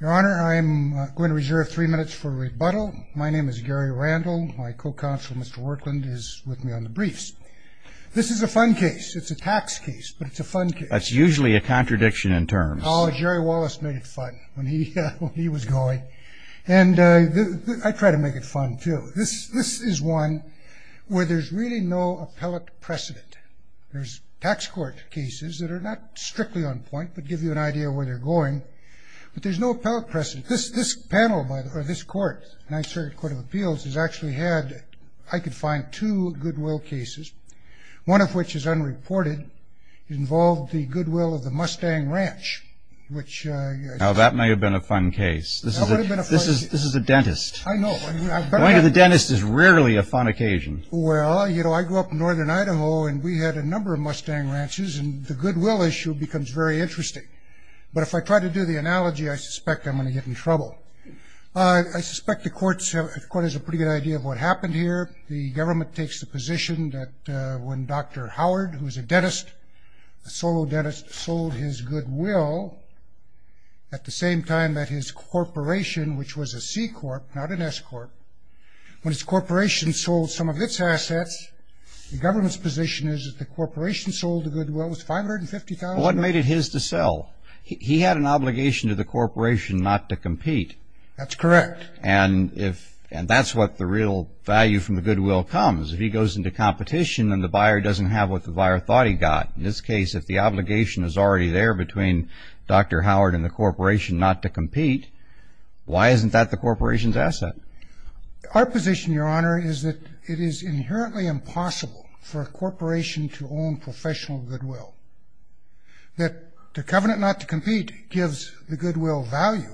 Your Honor, I'm going to reserve three minutes for rebuttal. My name is Gary Randall. My co-counsel, Mr. Workland, is with me on the briefs. This is a fun case. It's a tax case, but it's a fun case. That's usually a contradiction in terms. Oh, Jerry Wallace made it fun when he was going. And I try to make it fun, too. This is one where there's really no appellate precedent. There's tax court cases that are not strictly on point, but give you an idea of where they're going. But there's no appellate precedent. This panel, or this court, the United States Court of Appeals, has actually had, I could find, two goodwill cases. One of which is unreported. It involved the goodwill of the Mustang Ranch. Now, that may have been a fun case. This is a dentist. I know. Going to the dentist is rarely a fun occasion. Well, you know, I grew up in northern Idaho, and we had a number of Mustang ranches. And the goodwill issue becomes very interesting. But if I try to do the analogy, I suspect I'm going to get in trouble. I suspect the court has a pretty good idea of what happened here. The government takes the position that when Dr. Howard, who was a dentist, a solo dentist, sold his goodwill, at the same time that his corporation, which was a C-corp, not an S-corp, when his corporation sold some of its assets, the government's position is that the corporation sold the goodwill. It was $550,000. Well, what made it his to sell? He had an obligation to the corporation not to compete. That's correct. And that's what the real value from the goodwill comes. If he goes into competition and the buyer doesn't have what the buyer thought he got, in this case, if the obligation is already there between Dr. Howard and the corporation not to compete, why isn't that the corporation's asset? Our position, Your Honor, is that it is inherently impossible for a corporation to own professional goodwill. That the covenant not to compete gives the goodwill value.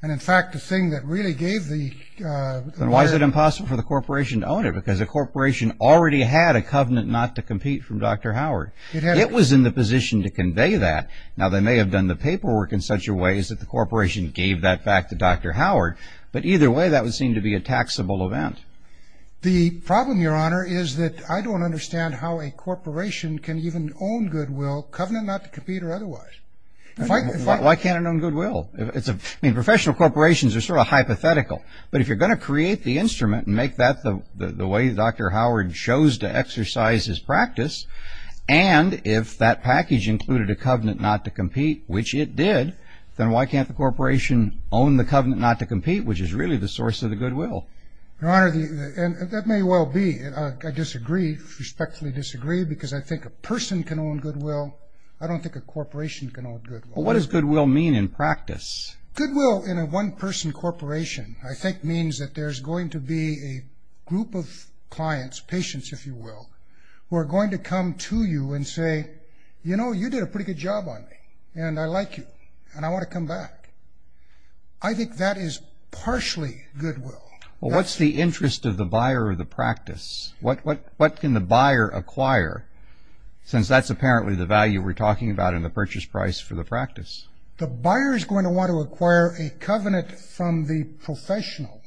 And, in fact, the thing that really gave the buyer... Then why is it impossible for the corporation to own it? Because the corporation already had a covenant not to compete from Dr. Howard. It was in the position to convey that. Now, they may have done the paperwork in such a way that the corporation gave that back to Dr. Howard. But either way, that would seem to be a taxable event. The problem, Your Honor, is that I don't understand how a corporation can even own goodwill, covenant not to compete or otherwise. Why can't it own goodwill? I mean, professional corporations are sort of hypothetical. But if you're going to create the instrument and make that the way Dr. Howard chose to exercise his practice, and if that package included a covenant not to compete, which it did, then why can't the corporation own the covenant not to compete, which is really the source of the goodwill? Your Honor, that may well be. I disagree, respectfully disagree, because I think a person can own goodwill. I don't think a corporation can own goodwill. What does goodwill mean in practice? Goodwill in a one-person corporation, I think, means that there's going to be a group of clients, patients, if you will, who are going to come to you and say, you know, you did a pretty good job on me, and I like you, and I want to come back. I think that is partially goodwill. Well, what's the interest of the buyer of the practice? What can the buyer acquire, since that's apparently the value we're talking about in the purchase price for the practice? The buyer is going to want to acquire a covenant from the professional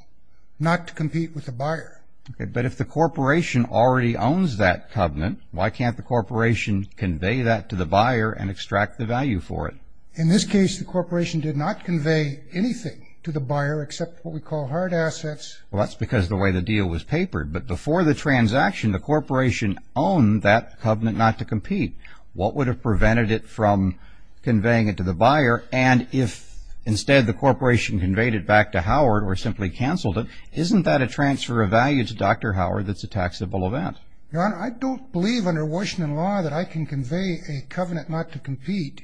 not to compete with the buyer. Okay, but if the corporation already owns that covenant, why can't the corporation convey that to the buyer and extract the value for it? In this case, the corporation did not convey anything to the buyer except what we call hard assets. Well, that's because of the way the deal was papered. But before the transaction, the corporation owned that covenant not to compete. What would have prevented it from conveying it to the buyer? And if instead the corporation conveyed it back to Howard or simply canceled it, isn't that a transfer of value to Dr. Howard that's a taxable event? Your Honor, I don't believe under Washington law that I can convey a covenant not to compete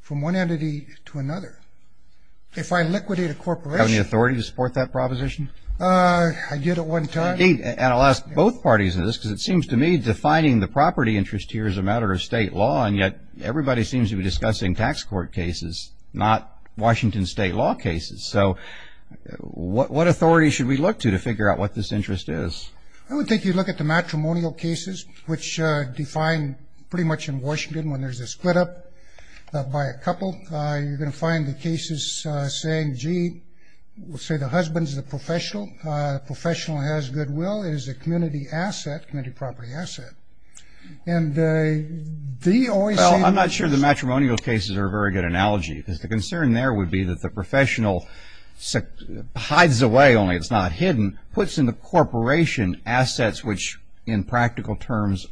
from one entity to another. If I liquidate a corporation. Do you have any authority to support that proposition? I did at one time. Indeed, and I'll ask both parties of this, because it seems to me defining the property interest here is a matter of state law, and yet everybody seems to be discussing tax court cases, not Washington state law cases. So what authority should we look to to figure out what this interest is? I would think you'd look at the matrimonial cases, which define pretty much in Washington when there's a split up by a couple. You're going to find the cases saying, gee, we'll say the husband's the professional. The professional has goodwill. It is a community asset, community property asset. Well, I'm not sure the matrimonial cases are a very good analogy, because the concern there would be that the professional hides away, only it's not hidden, puts in the corporation assets which in practical terms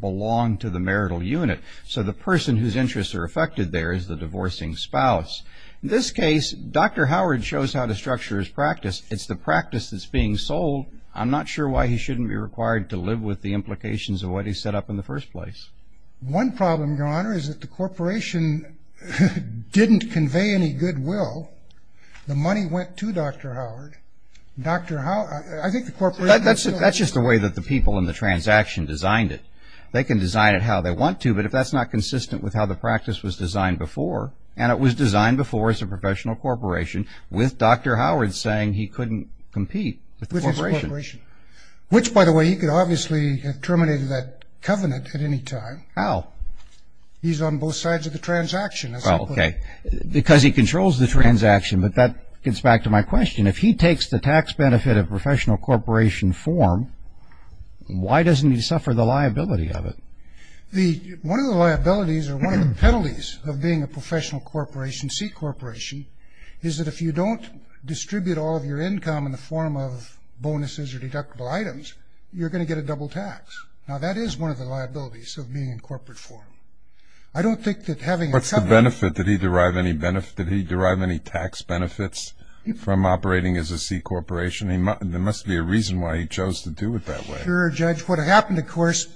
belong to the marital unit. So the person whose interests are affected there is the divorcing spouse. In this case, Dr. Howard shows how to structure his practice. It's the practice that's being sold. I'm not sure why he shouldn't be required to live with the implications of what he set up in the first place. One problem, Your Honor, is that the corporation didn't convey any goodwill. The money went to Dr. Howard. Dr. Howard, I think the corporation- That's just the way that the people in the transaction designed it. They can design it how they want to, but if that's not consistent with how the practice was designed before, and it was designed before as a professional corporation, with Dr. Howard saying he couldn't compete with the corporation. Which, by the way, he could obviously have terminated that covenant at any time. How? He's on both sides of the transaction. Well, okay, because he controls the transaction, but that gets back to my question. If he takes the tax benefit of professional corporation form, why doesn't he suffer the liability of it? One of the liabilities or one of the penalties of being a professional corporation, C corporation, is that if you don't distribute all of your income in the form of bonuses or deductible items, you're going to get a double tax. Now, that is one of the liabilities of being in corporate form. I don't think that having a company- What's the benefit? Did he derive any tax benefits from operating as a C corporation? There must be a reason why he chose to do it that way. Sure, Judge. What happened, of course,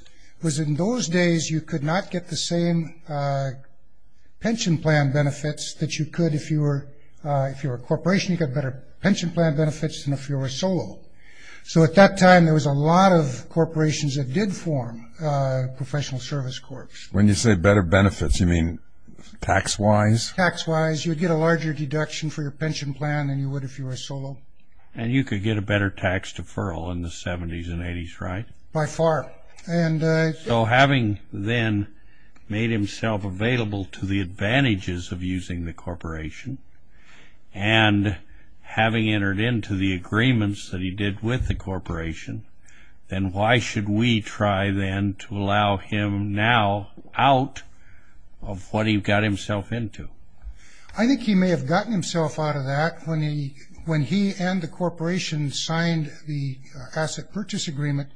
was in those days you could not get the same pension plan benefits that you could if you were a corporation. You got better pension plan benefits than if you were solo. So at that time, there was a lot of corporations that did form professional service corps. When you say better benefits, you mean tax-wise? Tax-wise. You would get a larger deduction for your pension plan than you would if you were solo. And you could get a better tax deferral in the 70s and 80s, right? By far. So having then made himself available to the advantages of using the corporation, and having entered into the agreements that he did with the corporation, then why should we try then to allow him now out of what he got himself into? I think he may have gotten himself out of that when he and the corporation signed the asset purchase agreement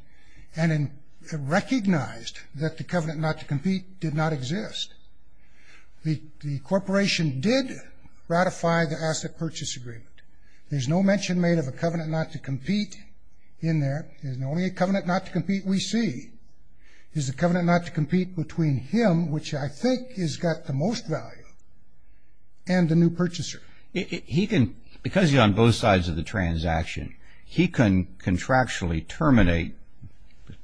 and recognized that the covenant not to compete did not exist. The corporation did ratify the asset purchase agreement. There's no mention made of a covenant not to compete in there. There's only a covenant not to compete we see. Is the covenant not to compete between him, which I think has got the most value, and the new purchaser? Because he's on both sides of the transaction, he can contractually terminate,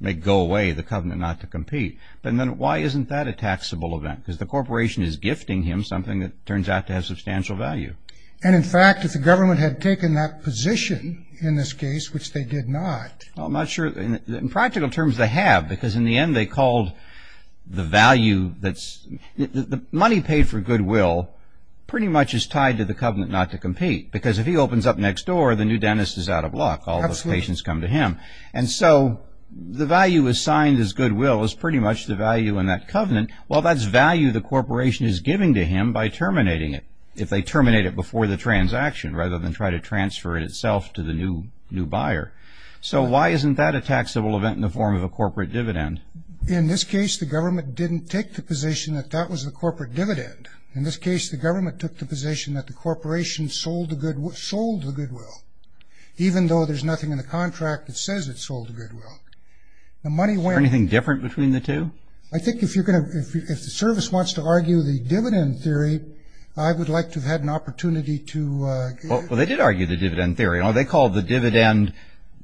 may go away, the covenant not to compete. But then why isn't that a taxable event? Because the corporation is gifting him something that turns out to have substantial value. And, in fact, if the government had taken that position in this case, which they did not. Well, I'm not sure in practical terms they have, because in the end they called the value that's... The money paid for goodwill pretty much is tied to the covenant not to compete. Because if he opens up next door, the new dentist is out of luck. All those patients come to him. And so the value assigned as goodwill is pretty much the value in that covenant. Well, that's value the corporation is giving to him by terminating it, if they terminate it before the transaction rather than try to transfer it itself to the new buyer. So why isn't that a taxable event in the form of a corporate dividend? In this case, the government didn't take the position that that was the corporate dividend. In this case, the government took the position that the corporation sold the goodwill, even though there's nothing in the contract that says it sold the goodwill. Is there anything different between the two? I think if the service wants to argue the dividend theory, I would like to have had an opportunity to... Well, they did argue the dividend theory. They called the dividend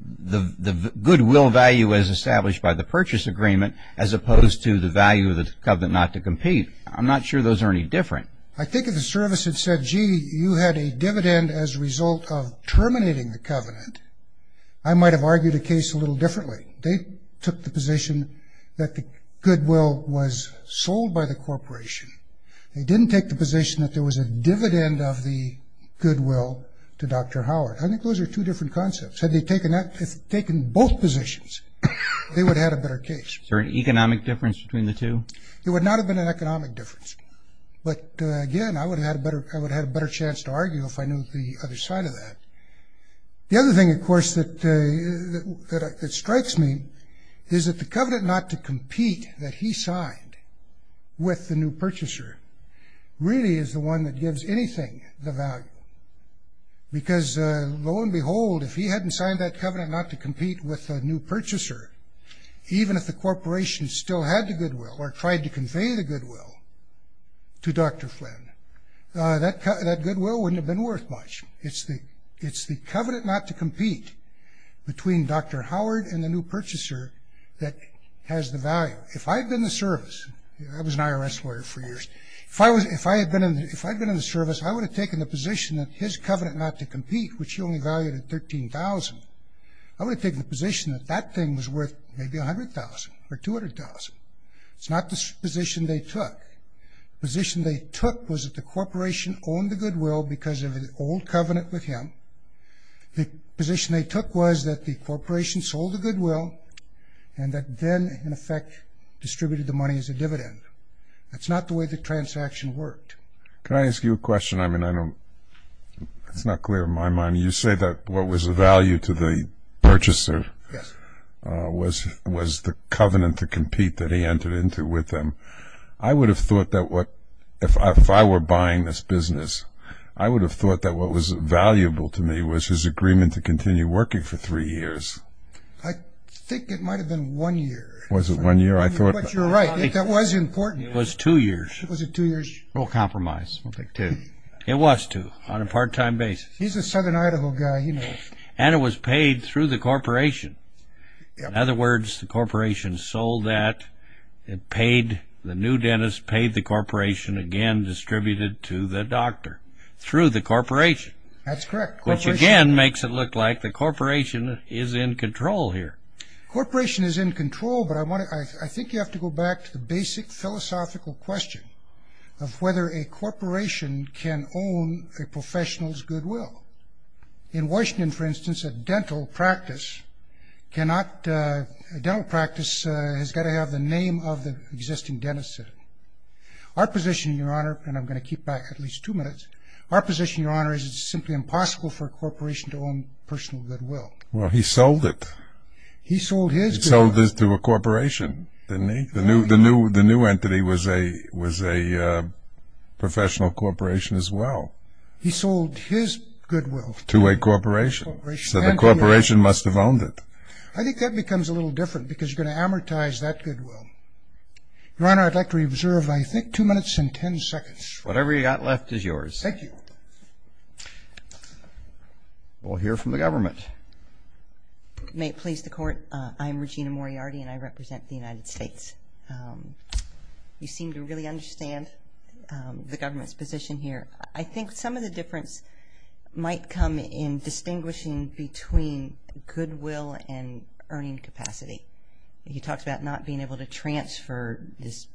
the goodwill value as established by the purchase agreement as opposed to the value of the covenant not to compete. I'm not sure those are any different. I think if the service had said, gee, you had a dividend as a result of terminating the covenant, I might have argued the case a little differently. They took the position that the goodwill was sold by the corporation. They didn't take the position that there was a dividend of the goodwill to Dr. Howard. I think those are two different concepts. Had they taken both positions, they would have had a better case. Is there an economic difference between the two? There would not have been an economic difference. But, again, I would have had a better chance to argue if I knew the other side of that. The other thing, of course, that strikes me is that the covenant not to compete that he signed with the new purchaser really is the one that gives anything the value. Because, lo and behold, if he hadn't signed that covenant not to compete with the new purchaser, even if the corporation still had the goodwill or tried to convey the goodwill to Dr. Flynn, that goodwill wouldn't have been worth much. It's the covenant not to compete between Dr. Howard and the new purchaser that has the value. Now, if I had been in the service, I was an IRS lawyer for years, if I had been in the service, I would have taken the position that his covenant not to compete, which he only valued at $13,000, I would have taken the position that that thing was worth maybe $100,000 or $200,000. It's not the position they took. The position they took was that the corporation owned the goodwill because of an old covenant with him. The position they took was that the corporation sold the goodwill and that then, in effect, distributed the money as a dividend. That's not the way the transaction worked. Can I ask you a question? I mean, it's not clear in my mind. You say that what was of value to the purchaser was the covenant to compete that he entered into with them. I would have thought that if I were buying this business, I would have thought that what was valuable to me was his agreement to continue working for three years. I think it might have been one year. Was it one year? But you're right. That was important. It was two years. Was it two years? We'll compromise. We'll take two. It was two on a part-time basis. He's a southern Idaho guy. He knows. And it was paid through the corporation. In other words, the corporation sold that, the new dentist paid the corporation, again distributed to the doctor through the corporation. That's correct. Which, again, makes it look like the corporation is in control here. The corporation is in control, but I think you have to go back to the basic philosophical question of whether a corporation can own a professional's goodwill. In Washington, for instance, a dental practice cannot, a dental practice has got to have the name of the existing dentist in it. Our position, Your Honor, and I'm going to keep back at least two minutes, our position, Your Honor, is it's simply impossible for a corporation to own personal goodwill. Well, he sold it. He sold his goodwill. He sold it to a corporation, didn't he? The new entity was a professional corporation as well. He sold his goodwill to a corporation. So the corporation must have owned it. I think that becomes a little different because you're going to amortize that goodwill. Your Honor, I'd like to reserve, I think, two minutes and ten seconds. Whatever you've got left is yours. Thank you. We'll hear from the government. May it please the Court, I'm Regina Moriarty and I represent the United States. You seem to really understand the government's position here. I think some of the difference might come in distinguishing between goodwill and earning capacity. He talks about not being able to transfer this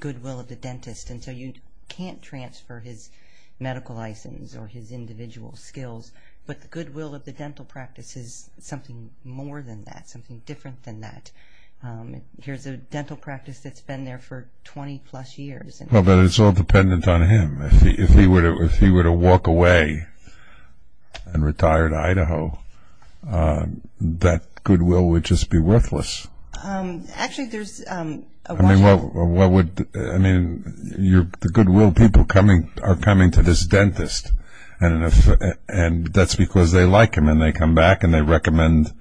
goodwill of the dentist until you can't transfer his medical license or his individual skills. But the goodwill of the dental practice is something more than that, something different than that. Here's a dental practice that's been there for 20-plus years. Well, but it's all dependent on him. If he were to walk away and retire to Idaho, that goodwill would just be worthless. Actually, there's a... I mean, the goodwill people are coming to this dentist and that's because they like him and they come back and they recommend.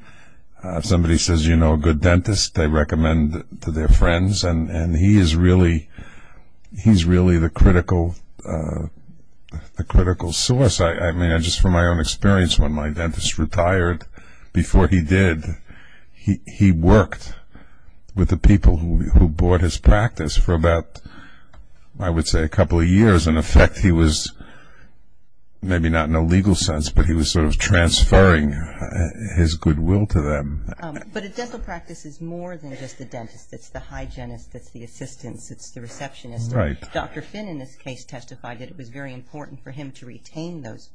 If somebody says, you know, a good dentist, they recommend to their friends and he is really the critical source. I mean, just from my own experience, when my dentist retired, before he did, he worked with the people who bought his practice for about, I would say, a couple of years. In effect, he was maybe not in a legal sense, but he was sort of transferring his goodwill to them. But a dental practice is more than just the dentist. It's the hygienist, it's the assistants, it's the receptionist. Dr. Finn, in this case, testified that it was very important for him to retain those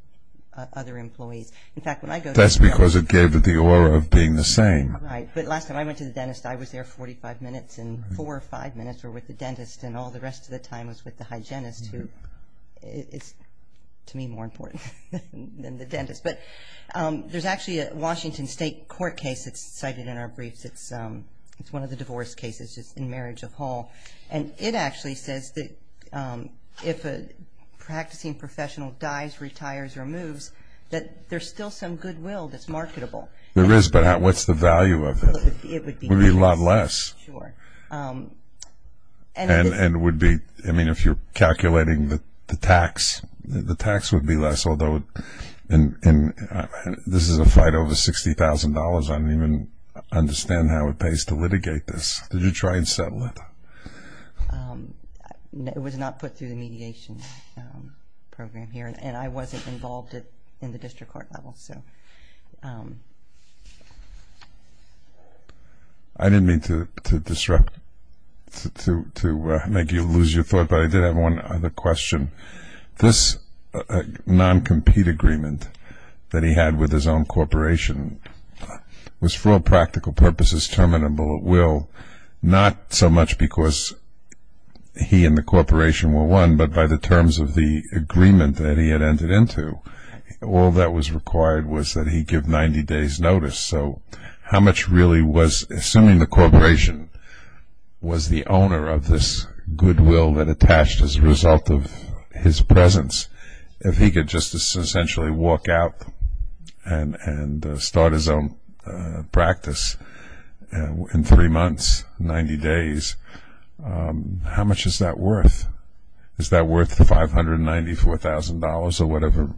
other employees. In fact, when I go to the dentist... That's because it gave it the aura of being the same. Right, but last time I went to the dentist, I was there 45 minutes and four or five minutes were with the dentist and all the rest of the time was with the hygienist, who is, to me, more important than the dentist. But there's actually a Washington State court case that's cited in our briefs. It's one of the divorce cases in marriage of Hall, and it actually says that if a practicing professional dies, retires, or moves, that there's still some goodwill that's marketable. There is, but what's the value of it? It would be a lot less. Sure. And it would be, I mean, if you're calculating the tax, the tax would be less, although this is a fight over $60,000. I don't even understand how it pays to litigate this. Did you try and settle it? It was not put through the mediation program here, and I wasn't involved in the district court level. I didn't mean to disrupt, to make you lose your thought, but I did have one other question. This non-compete agreement that he had with his own corporation was for all practical purposes terminable at will, not so much because he and the corporation were one, but by the terms of the agreement that he had entered into. All that was required was that he give 90 days' notice. So how much really was, assuming the corporation was the owner of this goodwill that attached as a result of his presence, if he could just essentially walk out and start his own practice in three months, 90 days, how much is that worth? Is that worth $594,000 or whatever?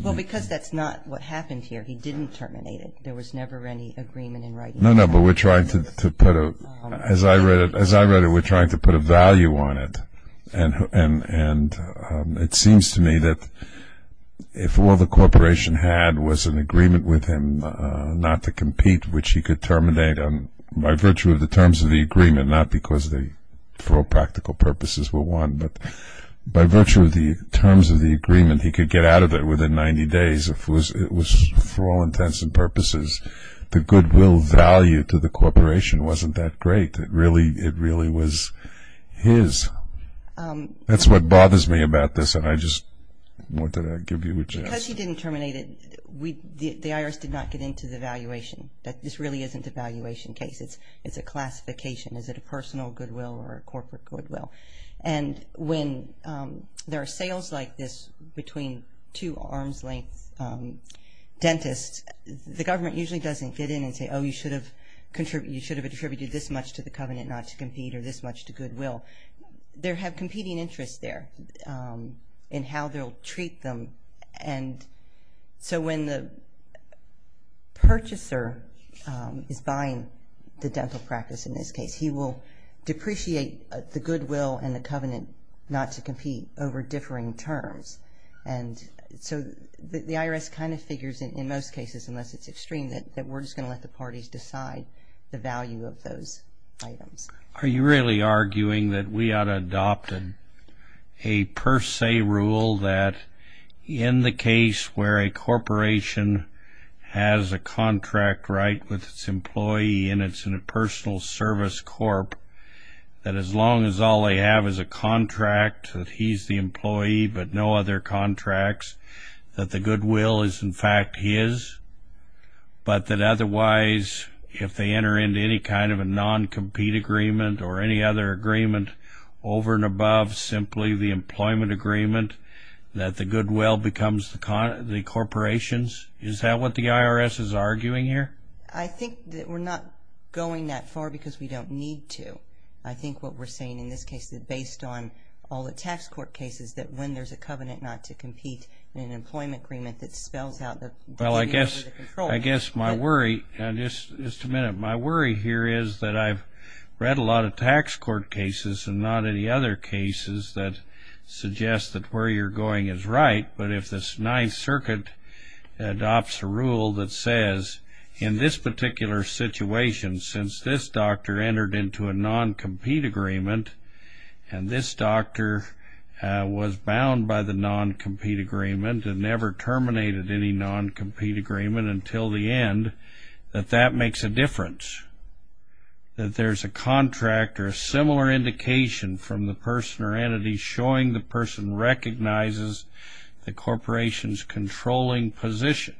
Well, because that's not what happened here. He didn't terminate it. There was never any agreement in writing. No, no, but we're trying to put a, as I read it, we're trying to put a value on it, and it seems to me that if all the corporation had was an agreement with him not to compete, which he could terminate by virtue of the terms of the agreement, not because for all practical purposes were one, but by virtue of the terms of the agreement he could get out of it within 90 days, if it was for all intents and purposes. The goodwill value to the corporation wasn't that great. It really was his. That's what bothers me about this, and I just wanted to give you a chance. Because he didn't terminate it, the IRS did not get into the valuation. This really isn't a valuation case. It's a classification. Is it a personal goodwill or a corporate goodwill? And when there are sales like this between two arm's-length dentists, the government usually doesn't get in and say, oh, you should have contributed this much to the covenant not to compete or this much to goodwill. There have competing interests there in how they'll treat them. And so when the purchaser is buying the dental practice in this case, he will depreciate the goodwill and the covenant not to compete over differing terms. And so the IRS kind of figures in most cases, unless it's extreme, that we're just going to let the parties decide the value of those items. Are you really arguing that we ought to adopt a per se rule that in the case where a corporation has a contract right with its employee and it's in a personal service corp, that as long as all they have is a contract, that he's the employee but no other contracts, that the goodwill is in fact his, but that otherwise if they enter into any kind of a non-compete agreement or any other agreement over and above simply the employment agreement, that the goodwill becomes the corporation's? Is that what the IRS is arguing here? I think that we're not going that far because we don't need to. I think what we're saying in this case is that based on all the tax court cases, that when there's a covenant not to compete in an employment agreement that spells out the control. Well, I guess my worry, just a minute, my worry here is that I've read a lot of tax court cases and not any other cases that suggest that where you're going is right. But if the Ninth Circuit adopts a rule that says in this particular situation, since this doctor entered into a non-compete agreement and this doctor was bound by the non-compete agreement and never terminated any non-compete agreement until the end, that that makes a difference. That there's a contract or a similar indication from the person or entity showing the person recognizes the corporation's controlling position.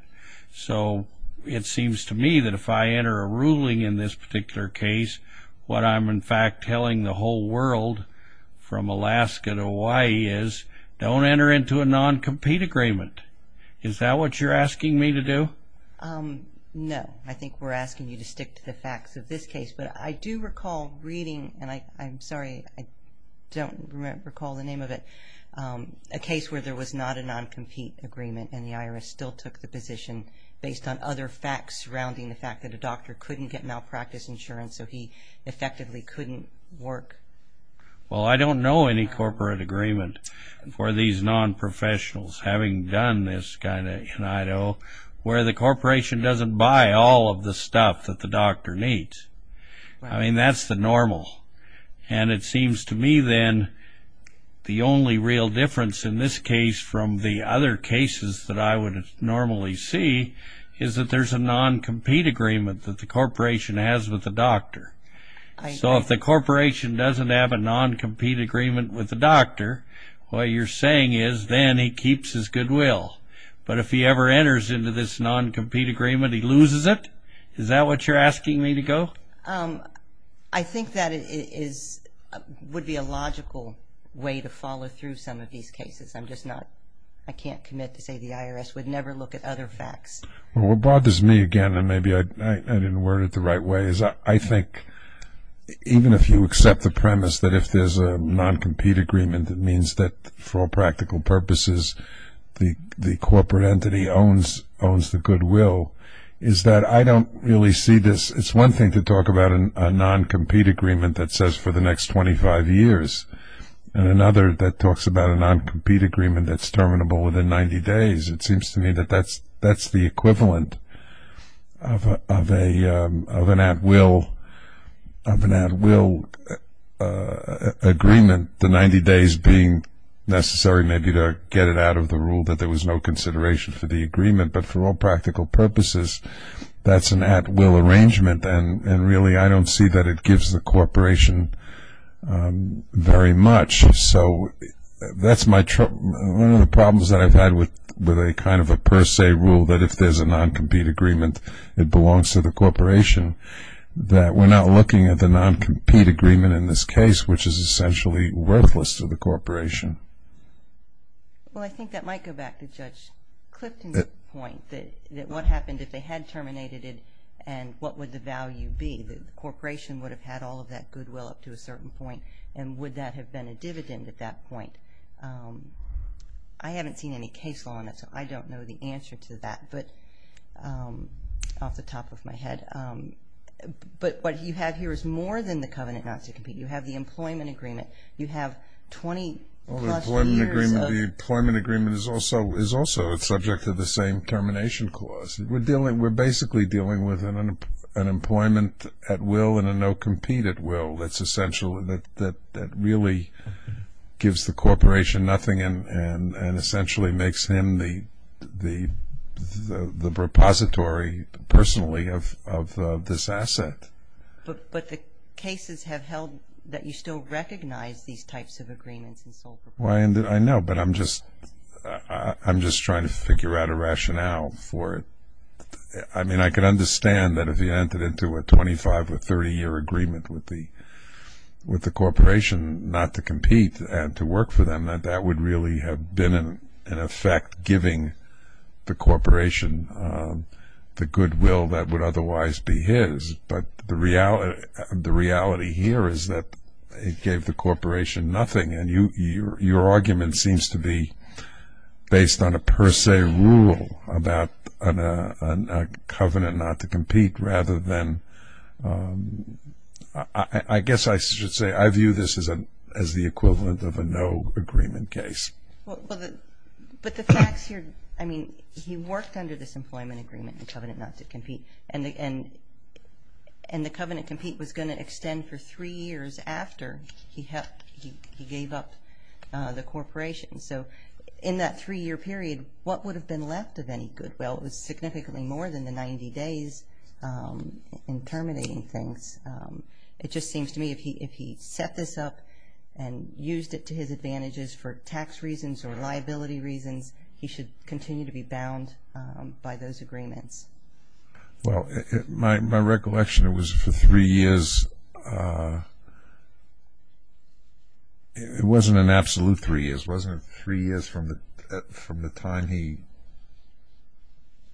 So it seems to me that if I enter a ruling in this particular case, what I'm in fact telling the whole world from Alaska to Hawaii is, don't enter into a non-compete agreement. Is that what you're asking me to do? No, I think we're asking you to stick to the facts of this case. But I do recall reading, and I'm sorry, I don't recall the name of it, a case where there was not a non-compete agreement and the IRS still took the position based on other facts surrounding the fact that a doctor couldn't get malpractice insurance, so he effectively couldn't work. Well, I don't know any corporate agreement for these non-professionals, having done this kind of in Idaho, where the corporation doesn't buy all of the stuff that the doctor needs. I mean, that's the normal. And it seems to me then the only real difference in this case from the other cases that I would normally see is that there's a non-compete agreement that the corporation has with the doctor. So if the corporation doesn't have a non-compete agreement with the doctor, what you're saying is then he keeps his goodwill. But if he ever enters into this non-compete agreement, he loses it? Is that what you're asking me to go? I think that would be a logical way to follow through some of these cases. I'm just not, I can't commit to say the IRS would never look at other facts. Well, what bothers me again, and maybe I didn't word it the right way, is I think even if you accept the premise that if there's a non-compete agreement it means that for all practical purposes the corporate entity owns the goodwill, is that I don't really see this. It's one thing to talk about a non-compete agreement that says for the next 25 years and another that talks about a non-compete agreement that's terminable within 90 days. It seems to me that that's the equivalent of an at-will agreement and the 90 days being necessary maybe to get it out of the rule that there was no consideration for the agreement, but for all practical purposes that's an at-will arrangement and really I don't see that it gives the corporation very much. So that's one of the problems that I've had with a kind of a per se rule that if there's a non-compete agreement it belongs to the corporation, that we're not looking at the non-compete agreement in this case, which is essentially worthless to the corporation. Well, I think that might go back to Judge Clifton's point that what happened if they had terminated it and what would the value be? The corporation would have had all of that goodwill up to a certain point and would that have been a dividend at that point? I haven't seen any case law on it, so I don't know the answer to that off the top of my head. But what you have here is more than the covenant not to compete. You have the employment agreement. You have 20-plus years of- Well, the employment agreement is also subject to the same termination clause. We're basically dealing with an employment at will and a no-compete at will that's essential and that really gives the corporation nothing and essentially makes him the repository personally of this asset. But the cases have held that you still recognize these types of agreements and so forth. I know, but I'm just trying to figure out a rationale for it. I mean, I can understand that if he entered into a 25- or 30-year agreement with the corporation not to compete and to work for them, that that would really have been in effect giving the corporation the goodwill that would otherwise be his. But the reality here is that it gave the corporation nothing, and your argument seems to be based on a per se rule about a covenant not to compete rather than- I guess I should say I view this as the equivalent of a no-agreement case. Well, but the facts here- I mean, he worked under this employment agreement and covenant not to compete, and the covenant compete was going to extend for three years after he gave up the corporation. So in that three-year period, what would have been left of any goodwill? It was significantly more than the 90 days in terminating things. It just seems to me if he set this up and used it to his advantages for tax reasons or liability reasons, he should continue to be bound by those agreements. Well, my recollection, it was for three years. It wasn't an absolute three years. Wasn't it three years from the time he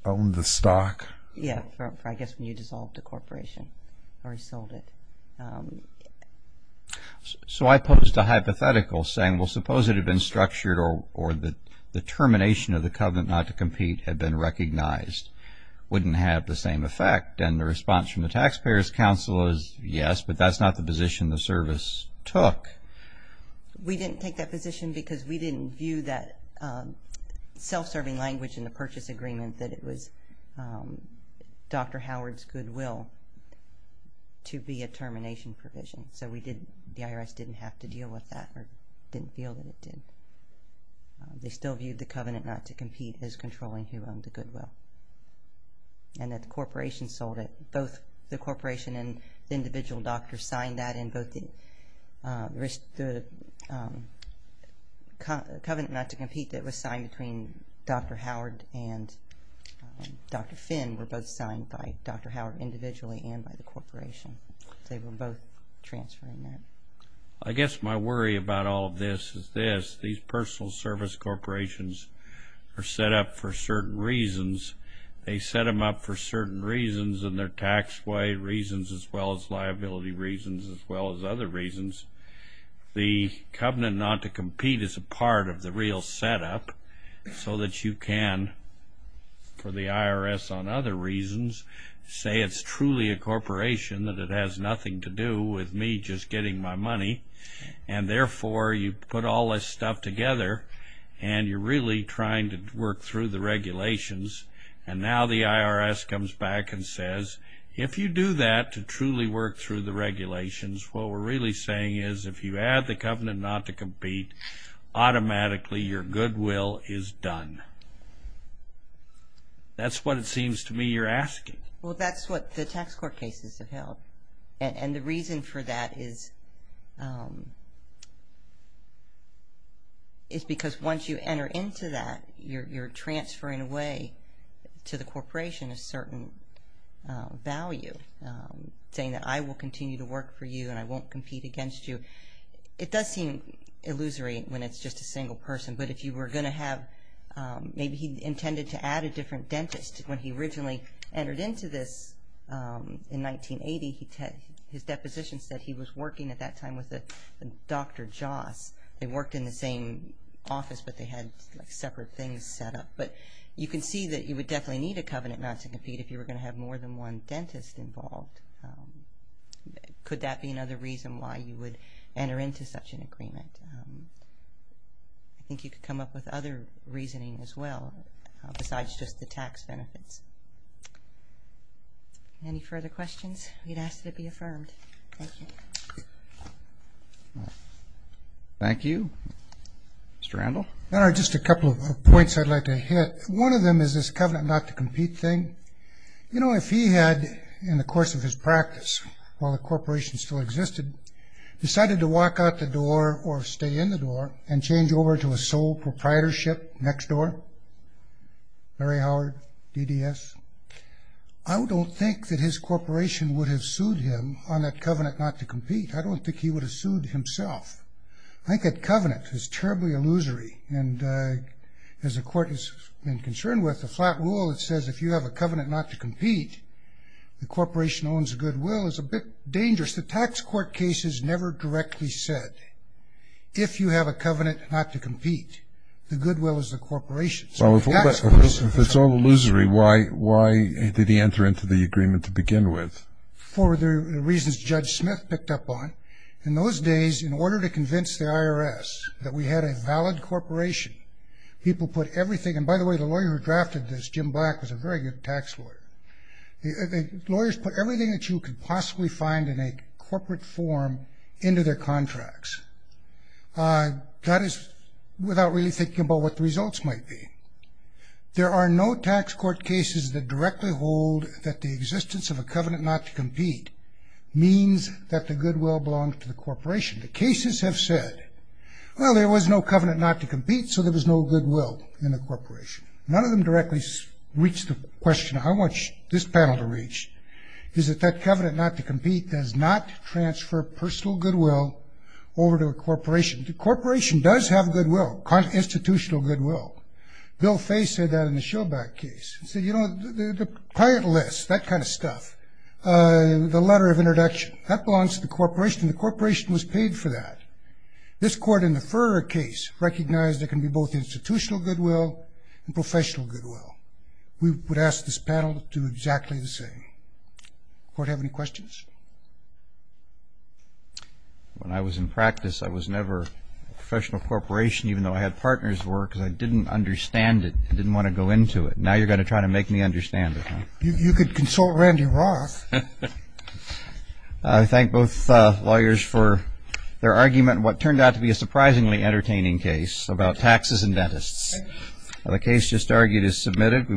owned the stock? Yeah, I guess when you dissolved the corporation or he sold it. So I posed a hypothetical saying, well, suppose it had been structured or the termination of the covenant not to compete had been recognized. Wouldn't it have the same effect? And the response from the Taxpayers' Council is yes, but that's not the position the service took. We didn't take that position because we didn't view that self-serving language in the purchase agreement that it was Dr. Howard's goodwill to be a termination provision. So the IRS didn't have to deal with that or didn't feel that it did. They still viewed the covenant not to compete as controlling who owned the goodwill. And that the corporation sold it. Both the corporation and the individual doctor signed that and both the covenant not to compete that was signed between Dr. Howard and Dr. Finn were both signed by Dr. Howard individually and by the corporation. They were both transferring that. I guess my worry about all of this is this. These personal service corporations are set up for certain reasons. They set them up for certain reasons in their tax way reasons as well as liability reasons as well as other reasons. The covenant not to compete is a part of the real set up so that you can, for the IRS on other reasons, say it's truly a corporation, that it has nothing to do with me just getting my money. And therefore you put all this stuff together and you're really trying to work through the regulations. And now the IRS comes back and says, if you do that to truly work through the regulations, what we're really saying is if you add the covenant not to compete, automatically your goodwill is done. That's what it seems to me you're asking. Well, that's what the tax court cases have held. And the reason for that is because once you enter into that, you're transferring away to the corporation a certain value, saying that I will continue to work for you and I won't compete against you. It does seem illusory when it's just a single person, but if you were going to have, maybe he intended to add a different dentist. When he originally entered into this in 1980, his deposition said he was working at that time with Dr. Joss. They worked in the same office, but they had separate things set up. But you can see that you would definitely need a covenant not to compete if you were going to have more than one dentist involved. Could that be another reason why you would enter into such an agreement? I think you could come up with other reasoning as well, besides just the tax benefits. Any further questions? We'd ask that it be affirmed. Thank you. Thank you. Mr. Randall. Just a couple of points I'd like to hit. One of them is this covenant not to compete thing. You know, if he had, in the course of his practice, while the corporation still existed, decided to walk out the door or stay in the door and change over to a sole proprietorship next door, Larry Howard, DDS, I don't think that his corporation would have sued him on that covenant not to compete. I don't think he would have sued himself. I think that covenant is terribly illusory. And as the court has been concerned with, the flat rule that says if you have a covenant not to compete, the corporation owns the goodwill is a bit dangerous. The tax court case has never directly said, if you have a covenant not to compete, the goodwill is the corporation. If it's all illusory, why did he enter into the agreement to begin with? For the reasons Judge Smith picked up on, in those days, in order to convince the IRS that we had a valid corporation, people put everything, and by the way, the lawyer who drafted this, Jim Black, was a very good tax lawyer. Lawyers put everything that you could possibly find in a corporate form into their contracts. That is without really thinking about what the results might be. There are no tax court cases that directly hold that the existence of a covenant not to compete means that the goodwill belongs to the corporation. The cases have said, well, there was no covenant not to compete, so there was no goodwill in the corporation. None of them directly reach the question I want this panel to reach, is that that covenant not to compete does not transfer personal goodwill over to a corporation. The corporation does have goodwill, institutional goodwill. Bill Faye said that in the Showback case. He said, you know, the client list, that kind of stuff, the letter of introduction, that belongs to the corporation, and the corporation was paid for that. This court in the Furrer case recognized there can be both institutional goodwill and professional goodwill. We would ask this panel to do exactly the same. Does the court have any questions? When I was in practice, I was never a professional corporation, even though I had partners' work, because I didn't understand it and didn't want to go into it. Now you're going to try to make me understand it, huh? You could consult Randy Roth. I thank both lawyers for their argument in what turned out to be a surprisingly entertaining case about taxes and dentists. The case just argued is submitted.